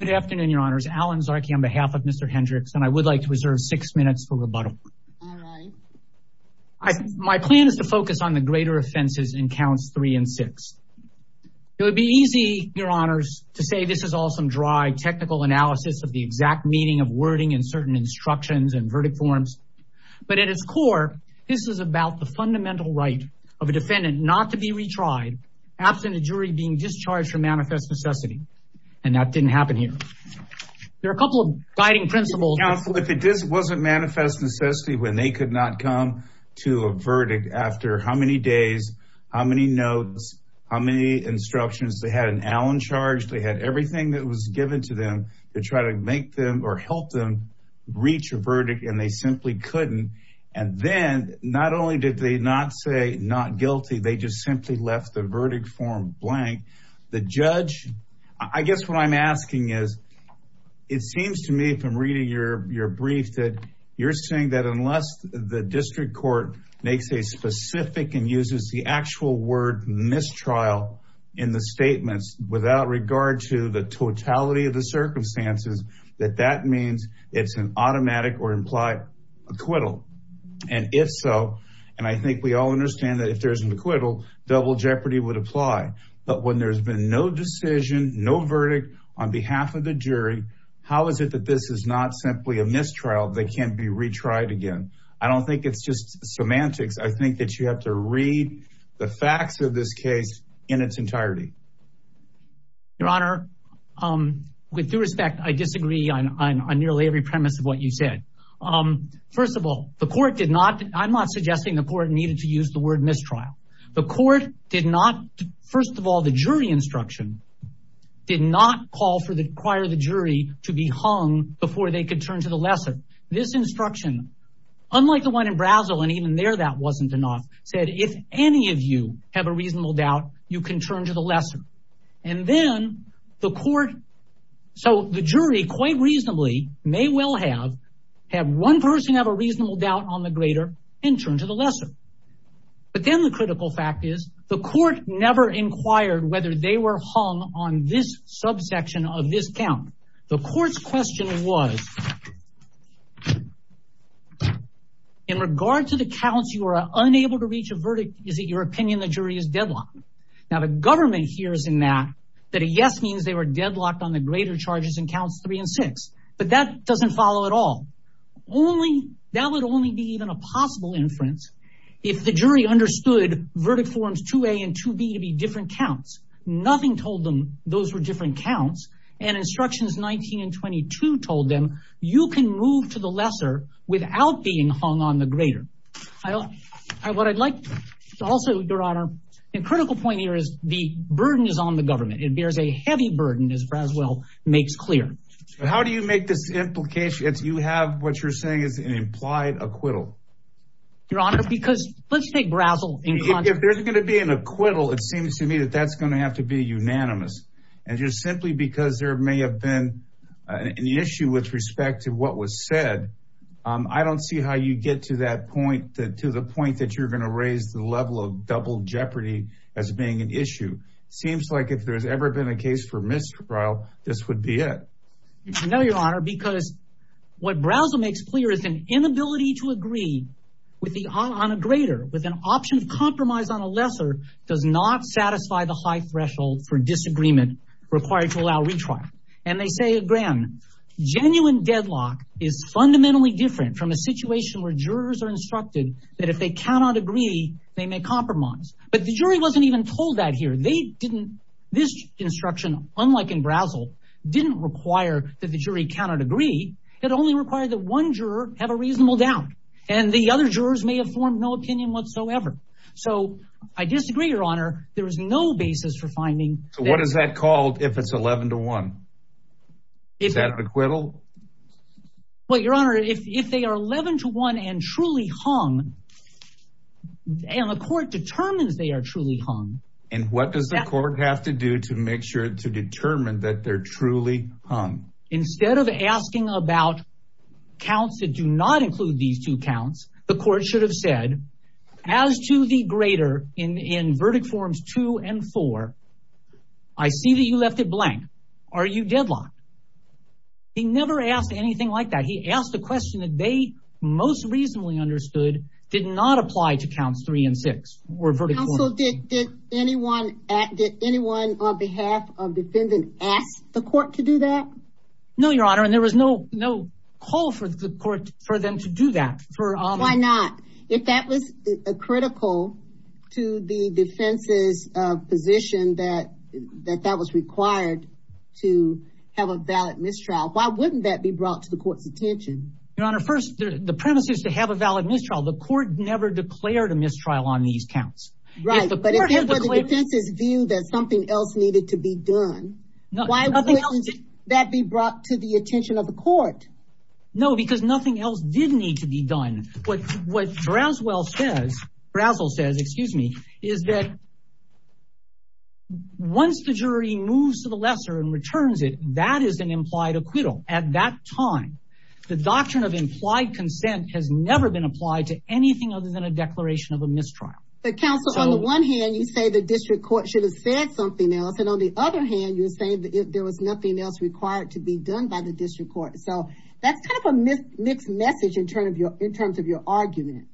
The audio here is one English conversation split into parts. Good afternoon your honors, Alan Zarki on behalf of Mr. Hendrix and I would like to reserve six minutes for rebuttal. My plan is to focus on the greater offenses in counts three and six. It would be easy your honors to say this is all some dry technical analysis of the exact meaning of wording and certain instructions and verdict forms but at its core this is about the fundamental right of a defendant not to be retried absent a jury being discharged from manifest necessity and that didn't happen here. There are a couple of guiding principles. If it wasn't manifest necessity when they could not come to a verdict after how many days, how many notes, how many instructions, they had an Allen charge, they had everything that was given to them to try to make them or help them reach a verdict and they simply couldn't and then not only did they not say not I guess what I'm asking is it seems to me from reading your your brief that you're saying that unless the district court makes a specific and uses the actual word mistrial in the statements without regard to the totality of the circumstances that that means it's an automatic or implied acquittal and if so and I think we all understand that if there's an acquittal double jeopardy would apply but when there's been no decision no verdict on behalf of the jury how is it that this is not simply a mistrial they can't be retried again. I don't think it's just semantics I think that you have to read the facts of this case in its entirety. Your honor with due respect I disagree on nearly every premise of what you said. First of all the court did not I'm not first of all the jury instruction did not call for the prior the jury to be hung before they could turn to the lesser. This instruction unlike the one in Brazel and even there that wasn't enough said if any of you have a reasonable doubt you can turn to the lesser and then the court so the jury quite reasonably may well have have one person have a reasonable doubt on the greater and turn to the lesser but then the critical fact is the court never inquired whether they were hung on this subsection of this count. The court's question was in regard to the counts you are unable to reach a verdict is it your opinion the jury is deadlocked now the government hears in that that a yes means they were deadlocked on the greater charges in but that doesn't follow at all. Only that would only be even a possible inference if the jury understood verdict forms 2a and 2b to be different counts. Nothing told them those were different counts and instructions 19 and 22 told them you can move to the lesser without being hung on the greater. I what I'd like to also your honor a critical point here is the burden is on bears a heavy burden as Brazel makes clear. How do you make this implication that you have what you're saying is an implied acquittal? Your honor because let's take Brazel. If there's going to be an acquittal it seems to me that that's going to have to be unanimous and just simply because there may have been an issue with respect to what was said I don't see how you get to that point that to the point that you're going to raise the level of double jeopardy as being an issue seems like if there's ever been a case for mistrial this would be it. No your honor because what Brazel makes clear is an inability to agree with the honor greater with an option of compromise on a lesser does not satisfy the high threshold for disagreement required to allow retrial and they say again genuine deadlock is fundamentally different from a situation where jurors are instructed that if they cannot agree they may compromise but the jury wasn't even told that they didn't this instruction unlike in Brazel didn't require that the jury cannot agree it only required that one juror have a reasonable doubt and the other jurors may have formed no opinion whatsoever so I disagree your honor there is no basis for finding. So what is that called if it's 11 to 1? Is that an acquittal? Well your honor if if they are 11 to 1 and truly hung and the court determines they are truly hung and what does the court have to do to make sure to determine that they're truly hung? Instead of asking about counts that do not include these two counts the court should have said as to the greater in in verdict forms two and four I see that you left it blank are you deadlocked? He never asked anything like that he asked a did not apply to counts three and six were vertical so did did anyone at did anyone on behalf of defendant ask the court to do that? No your honor and there was no no call for the court for them to do that for why not if that was critical to the defense's uh position that that that was required to have a valid mistrial why wouldn't that be brought to the court's premises to have a valid mistrial the court never declared a mistrial on these counts right but if the court had the defense's view that something else needed to be done why wouldn't that be brought to the attention of the court? No because nothing else did need to be done what what Braswell says Braswell says excuse me is that once the jury moves to the lesser and returns it that is an implied acquittal at that time the doctrine of implied consent has never been applied to anything other than a declaration of a mistrial. But counsel on the one hand you say the district court should have said something else and on the other hand you're saying that there was nothing else required to be done by the district court so that's kind of a mixed mixed message in terms of your in terms of your argument.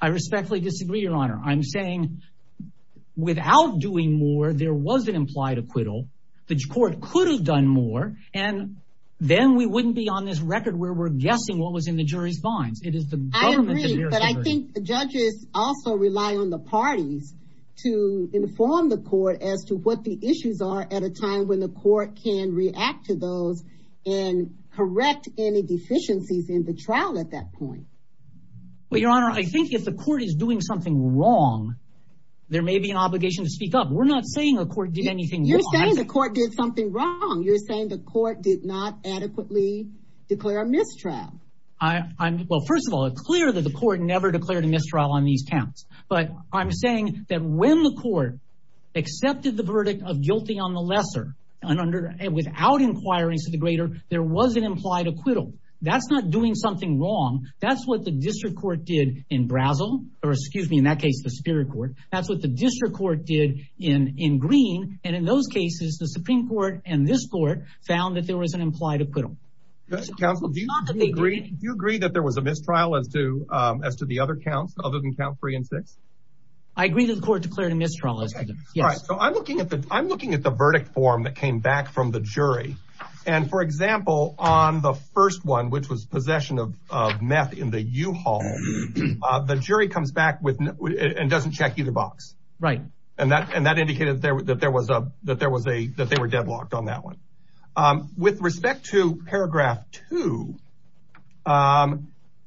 I respectfully disagree your honor I'm saying without doing more there was an implied acquittal the court could have done more and then we wouldn't be on this record where we're guessing what was in the jury's minds. I agree but I think the judges also rely on the parties to inform the court as to what the issues are at a time when the court can react to those and correct any deficiencies in the trial at that point. Well your honor I think if the court is doing something wrong there may be an obligation to speak up we're not saying a court did anything court did something wrong you're saying the court did not adequately declare a mistrial. Well first of all it's clear that the court never declared a mistrial on these counts but I'm saying that when the court accepted the verdict of guilty on the lesser and under without inquiring to the greater there was an implied acquittal. That's not doing something wrong that's what the district court did in brazil or excuse me in that case the superior court that's the district court did in in green and in those cases the supreme court and this court found that there was an implied acquittal. Counsel do you agree do you agree that there was a mistrial as to um as to the other counts other than count three and six? I agree that the court declared a mistrial. All right so I'm looking at the I'm looking at the verdict form that came back from the jury and for example on the first one which was possession of of meth in the u-haul the jury comes back with and doesn't check either box. Right. And that and that indicated that there was a that there was a that they were deadlocked on that one. With respect to paragraph two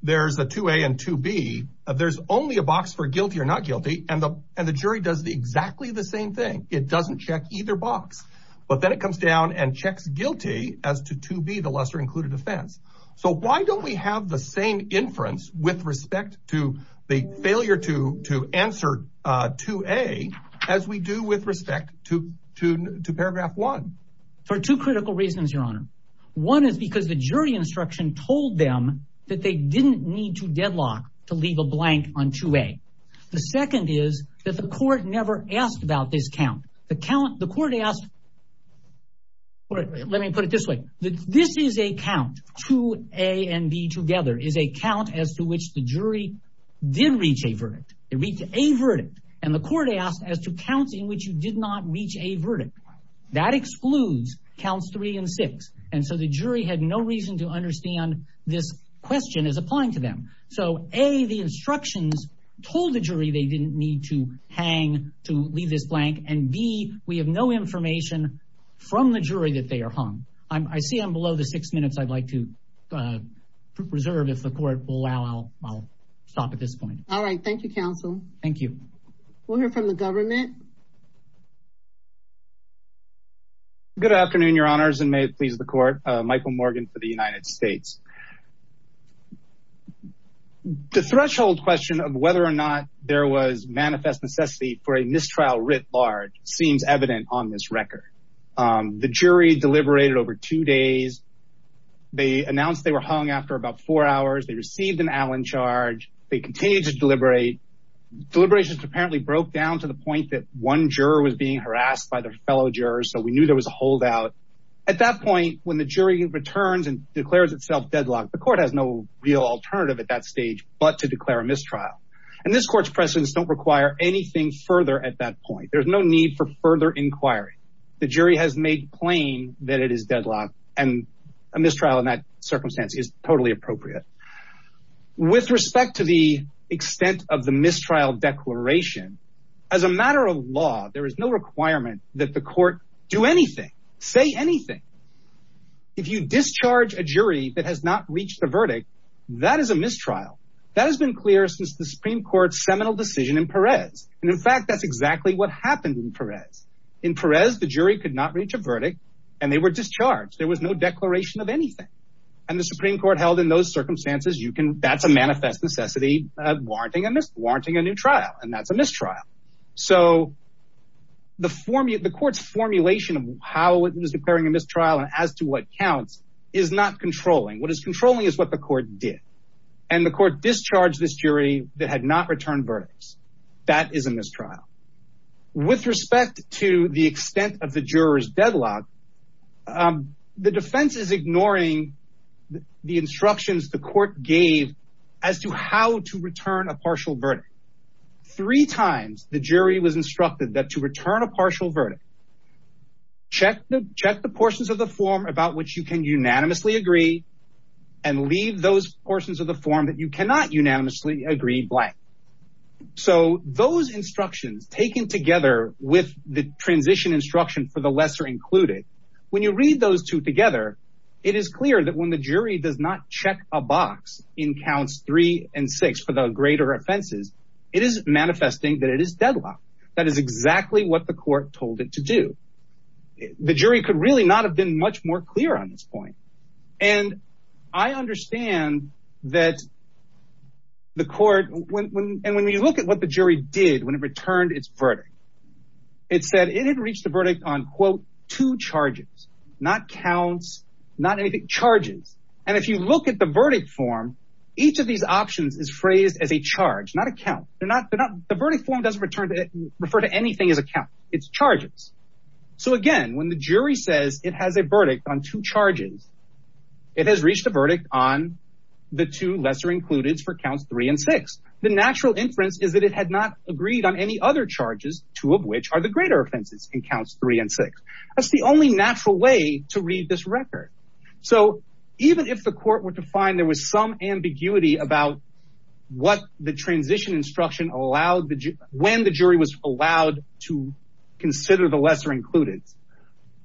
there's a 2a and 2b there's only a box for guilty or not guilty and the and the jury does exactly the same thing it doesn't check either box but then it comes down and checks guilty as to 2b the lesser included offense. So why don't we have the same inference with respect to the failure to to answer uh 2a as we do with respect to to to paragraph one? For two critical reasons your honor one is because the jury instruction told them that they didn't need to deadlock to leave a blank on 2a. The second is that the court never asked about this count the count the court asked let me put it this way this is a count 2a and b together is a count as which the jury did reach a verdict. They reached a verdict and the court asked as to counts in which you did not reach a verdict. That excludes counts three and six and so the jury had no reason to understand this question is applying to them. So a the instructions told the jury they didn't need to hang to leave this blank and b we have no information from the jury that they are hung. I see I'm below the six minutes I'd like to preserve if the court will allow I'll stop at this point. All right thank you counsel. Thank you. We'll hear from the government. Good afternoon your honors and may it please the court Michael Morgan for the United States. The threshold question of whether or not there was manifest necessity for a mistrial writ large seems evident on this record. The jury deliberated over two days. They announced they were hung after about four hours. They received an Allen charge. They continued to deliberate. Deliberations apparently broke down to the point that one juror was being harassed by their fellow jurors so we knew there was a holdout. At that point when the jury returns and declares itself deadlocked the court has no real alternative at that stage but to declare a mistrial and this court's precedents don't anything further at that point. There's no need for further inquiry. The jury has made plain that it is deadlocked and a mistrial in that circumstance is totally appropriate. With respect to the extent of the mistrial declaration as a matter of law there is no requirement that the court do anything say anything. If you discharge a jury that has not reached the verdict that is a mistrial. That has been clear since the Supreme Court's seminal decision in Perez and in fact that's exactly what happened in Perez. In Perez the jury could not reach a verdict and they were discharged. There was no declaration of anything and the Supreme Court held in those circumstances you can that's a manifest necessity of warranting a warranting a new trial and that's a mistrial. So the formula the court's formulation of how it was declaring a mistrial and as to what counts is not controlling. What is controlling is what court did and the court discharged this jury that had not returned verdicts that is a mistrial. With respect to the extent of the juror's deadlock the defense is ignoring the instructions the court gave as to how to return a partial verdict. Three times the jury was instructed that to return a partial verdict check the check the portions of the form about which you can unanimously agree and leave those portions of the form that you cannot unanimously agree blank. So those instructions taken together with the transition instruction for the lesser included. When you read those two together it is clear that when the jury does not check a box in counts three and six for the greater offenses it is manifesting that it is deadlocked. That is exactly what the court told it to do. The jury could really not have been much more clear on this point and I understand that the court when and when you look at what the jury did when it returned its verdict. It said it had reached the verdict on quote two charges not counts not anything charges and if you look at the verdict form each of these options is phrased as a charge not a count. They're not the verdict form doesn't return to refer to anything as a count it's charges. So again when the jury says it has a verdict on two charges it has reached a verdict on the two lesser included for counts three and six. The natural inference is that it had not agreed on any other charges two of which are the greater offenses in counts three and six. That's the only natural way to read this record. So even if the court were to find there was some ambiguity about what the transition instruction allowed when the jury was allowed to consider the lesser included.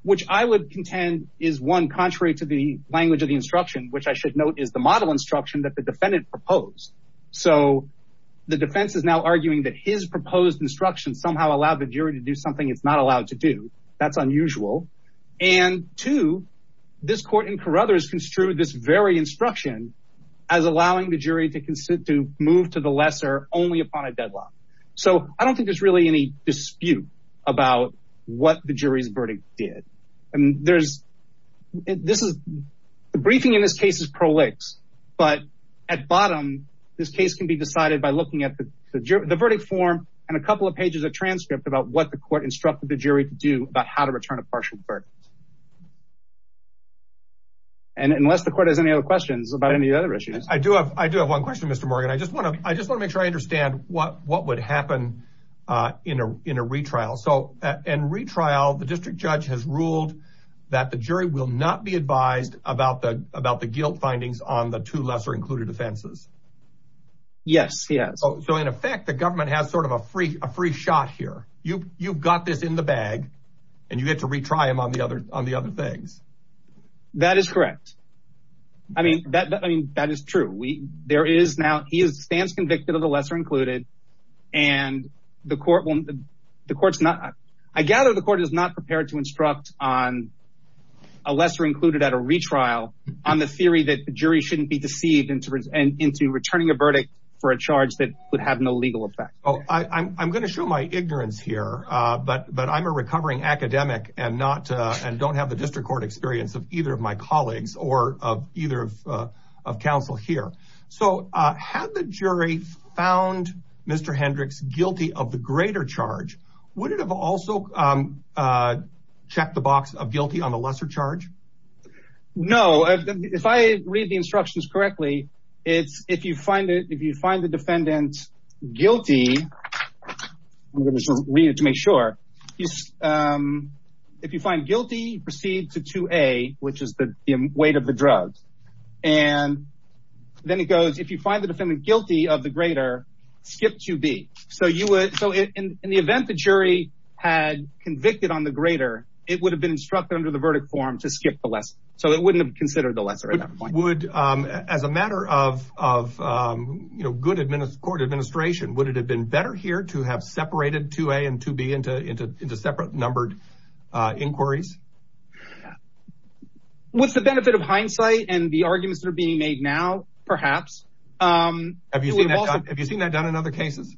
Which I would contend is one contrary to the language of the instruction which I should note is the model instruction that the defendant proposed. So the defense is now arguing that his proposed instruction somehow allowed the jury to do something it's not allowed to do. That's unusual and two this court in Carruthers construed this very instruction as allowing the jury to consider to move to the lesser only upon a deadlock. So I don't think there's really any dispute about what the jury's verdict did and there's this is the briefing in this case is prolix but at bottom this case can be decided by looking at the verdict form and a couple of pages of transcript about what the court instructed the jury to do about how to return a partial verdict. And unless the court has any other questions about any other issues. I do have I do have one question Mr. Morgan. I just want to I just want to make sure I understand what what would happen in a in a retrial. So in retrial the district judge has ruled that the jury will not be advised about the about the guilt findings on the two lesser included offenses. Yes he has. So in effect the government has sort of a free a free shot here. You you've got this in the bag and you get to retry them on the other on the things. That is correct. I mean that I mean that is true. We there is now he stands convicted of the lesser included and the court will the court's not I gather the court is not prepared to instruct on a lesser included at a retrial on the theory that the jury shouldn't be deceived into and into returning a verdict for a charge that would have no legal effect. Oh I I'm going to show my district court experience of either of my colleagues or of either of counsel here. So had the jury found Mr. Hendricks guilty of the greater charge. Would it have also checked the box of guilty on the lesser charge. No if I read the instructions correctly. It's if you find it if you find the defendant guilty. I'm going to read it to make sure he's if you find guilty proceed to a which is the weight of the drugs and then it goes if you find the defendant guilty of the greater skip to be. So you would so in the event the jury had convicted on the greater it would have been instructed under the verdict form to skip the lesson. So it wouldn't have considered the lesser at that point. Would as a matter of of you know good administ court administration would it have been better here to have separated to a and to be into into separate numbered inquiries. What's the benefit of hindsight and the arguments that are being made now perhaps. Have you seen that have you seen that done in other cases.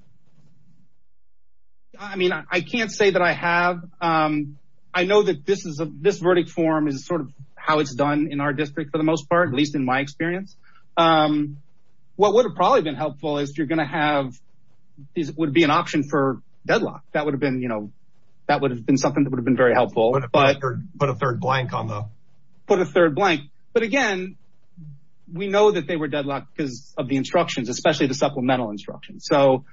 I mean I can't say that I have. I know that this is a this verdict form is sort of how it's done in our district for the most part at least in my experience. What would have probably been helpful is you're going to have this would be an option for deadlock. That would have been you know that would have been something that would have been very helpful. But a third blank on the put a third blank. But again we know that they were deadlocked because of the instructions especially the supplemental instructions. So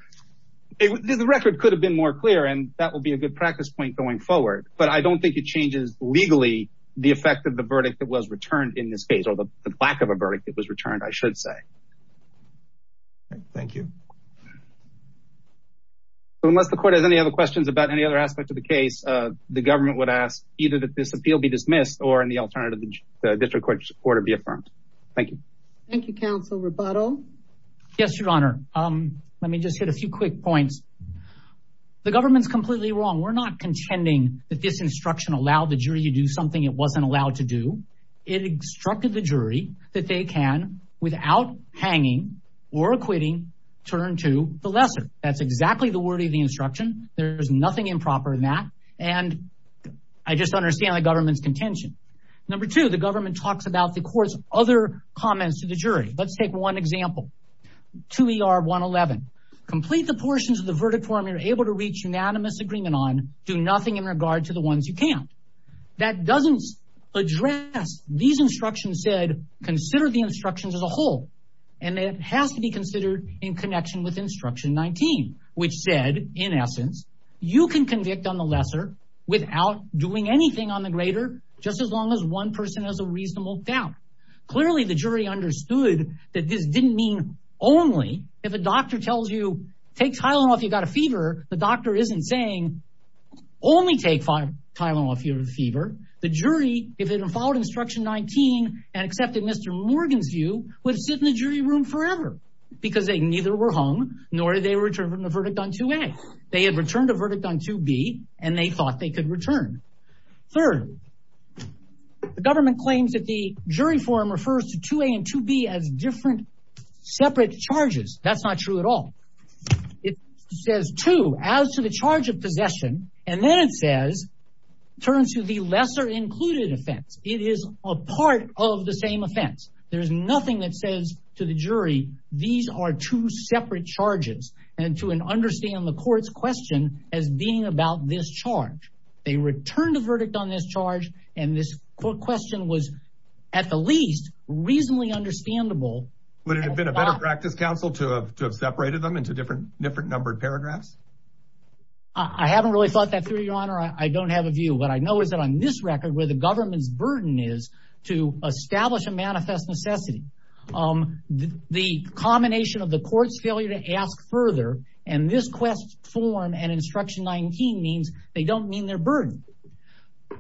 the record could have been more clear and that will be a good practice point going forward. But I don't think it changes legally the effect of the verdict that was returned in this case or the lack of a verdict that was returned I should say. Thank you. Unless the court has any other questions about any other aspect of the case the government would ask either that this appeal be dismissed or in the alternative the district court order be affirmed. Thank you. Thank you counsel Roboto. Yes your honor. Let me just hit a few quick points. The government's completely wrong. We're not contending that this instruction allowed the jury to do something it wasn't allowed to do. It instructed the jury that they can without hanging or quitting turn to the lesser. That's exactly the word of the instruction. There's nothing improper in that. And I just understand the government's contention. Number two the government talks about the court's other comments to the jury. Let's take one example. 2 ER 111. Complete the portions of the verdict form you're able to reach unanimous agreement on. Do nothing in regard to the ones you can't. That doesn't address. These instructions said consider the instructions as a whole and it has to be considered in connection with instruction 19 which said in essence you can convict on the lesser without doing anything on the greater just as long as one person has a reasonable doubt. Clearly the jury understood that this didn't mean only if a doctor tells you take Tylenol if you've got a fever the only take five Tylenol if you have a fever. The jury if it had followed instruction 19 and accepted Mr. Morgan's view would sit in the jury room forever because they neither were hung nor did they return from the verdict on 2A. They had returned a verdict on 2B and they thought they could return. Third the government claims that the jury forum refers to 2A and 2B as different separate charges. That's not true at all. It says two as to the charge of possession and then it says turn to the lesser included offense. It is a part of the same offense. There's nothing that says to the jury these are two separate charges and to understand the court's question as being about this charge. They returned a verdict on this charge and this question was at the least reasonably understandable. Would it have been a better practice counsel to have to have separated them into different numbered paragraphs? I haven't really thought that through your honor. I don't have a view. What I know is that on this record where the government's burden is to establish a manifest necessity. The combination of the court's failure to ask further and this quest form and instruction 19 means they don't mean they're burdened.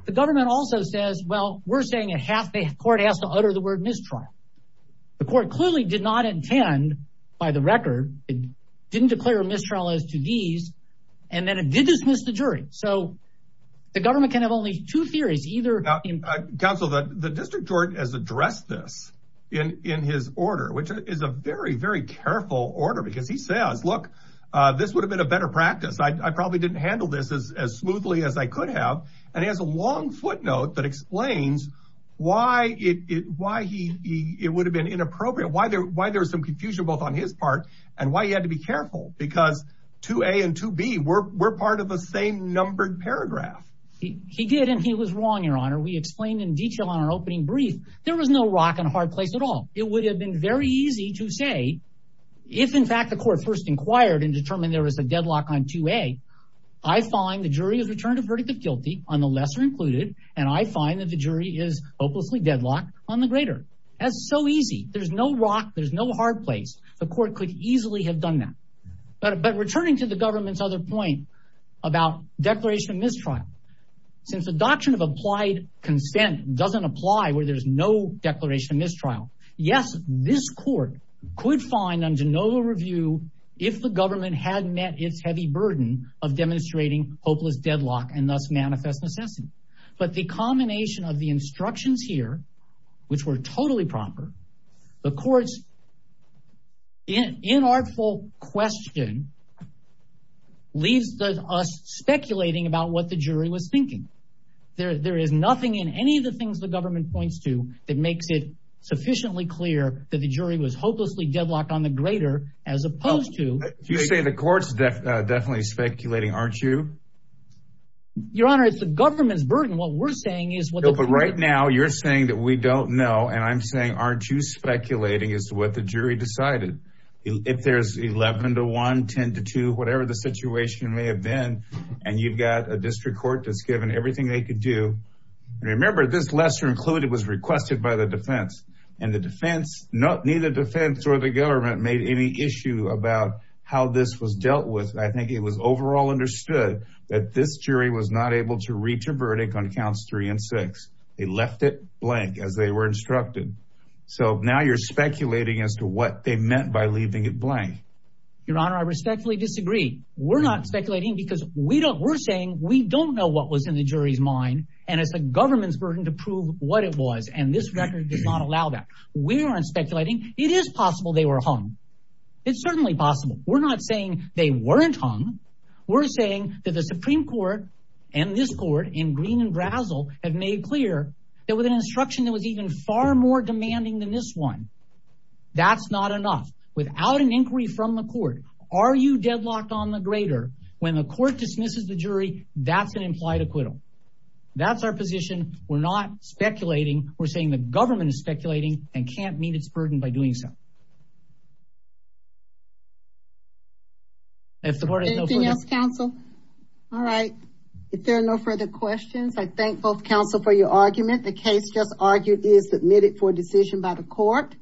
The government also says well we're court has to utter the word mistrial. The court clearly did not intend by the record didn't declare a mistrial as to these and then it did dismiss the jury. So the government can have only two theories. Counsel the district court has addressed this in in his order which is a very very careful order because he says look this would have been a better practice. I probably why it why he it would have been inappropriate. Why there why there's some confusion both on his part and why he had to be careful because 2a and 2b were were part of the same numbered paragraph. He did and he was wrong your honor. We explained in detail on our opening brief there was no rock and hard place at all. It would have been very easy to say if in fact the court first inquired and determined there was a deadlock on 2a. I find the jury has returned a verdict of guilty on the hopelessly deadlocked on the greater. That's so easy. There's no rock. There's no hard place. The court could easily have done that but but returning to the government's other point about declaration mistrial. Since the doctrine of applied consent doesn't apply where there's no declaration mistrial. Yes this court could find under no review if the government had met its heavy burden of demonstrating hopeless deadlock and thus manifest necessity. But the combination of the instructions here which were totally proper the court's in inartful question leaves us speculating about what the jury was thinking. There there is nothing in any of the things the government points to that makes it sufficiently clear that the jury was hopelessly deadlocked on the greater as opposed to. You say the court's definitely speculating aren't you? Your honor it's the government's burden. What we're saying is what but right now you're saying that we don't know and I'm saying aren't you speculating as to what the jury decided. If there's 11 to 1 10 to 2 whatever the situation may have been and you've got a district court that's given everything they could do. Remember this lesser included was requested by the defense and the defense not neither defense or the government made any issue about how this was understood that this jury was not able to reach a verdict on counts three and six. They left it blank as they were instructed. So now you're speculating as to what they meant by leaving it blank. Your honor I respectfully disagree. We're not speculating because we don't we're saying we don't know what was in the jury's mind and it's the government's burden to prove what it was and this record does not allow that. We aren't speculating. It is possible they were hung. It's certainly possible. We're not saying they weren't hung. We're saying that the supreme court and this court in green and grazzle have made clear that with an instruction that was even far more demanding than this one. That's not enough. Without an inquiry from the court are you deadlocked on the greater. When the court dismisses the jury that's an implied acquittal. That's our position. We're not speculating. We're saying the government is speculating and can't meet its burden by doing so. Anything else counsel? All right if there are no further questions I thank both counsel for your argument. The case just argued is submitted for decision by the court.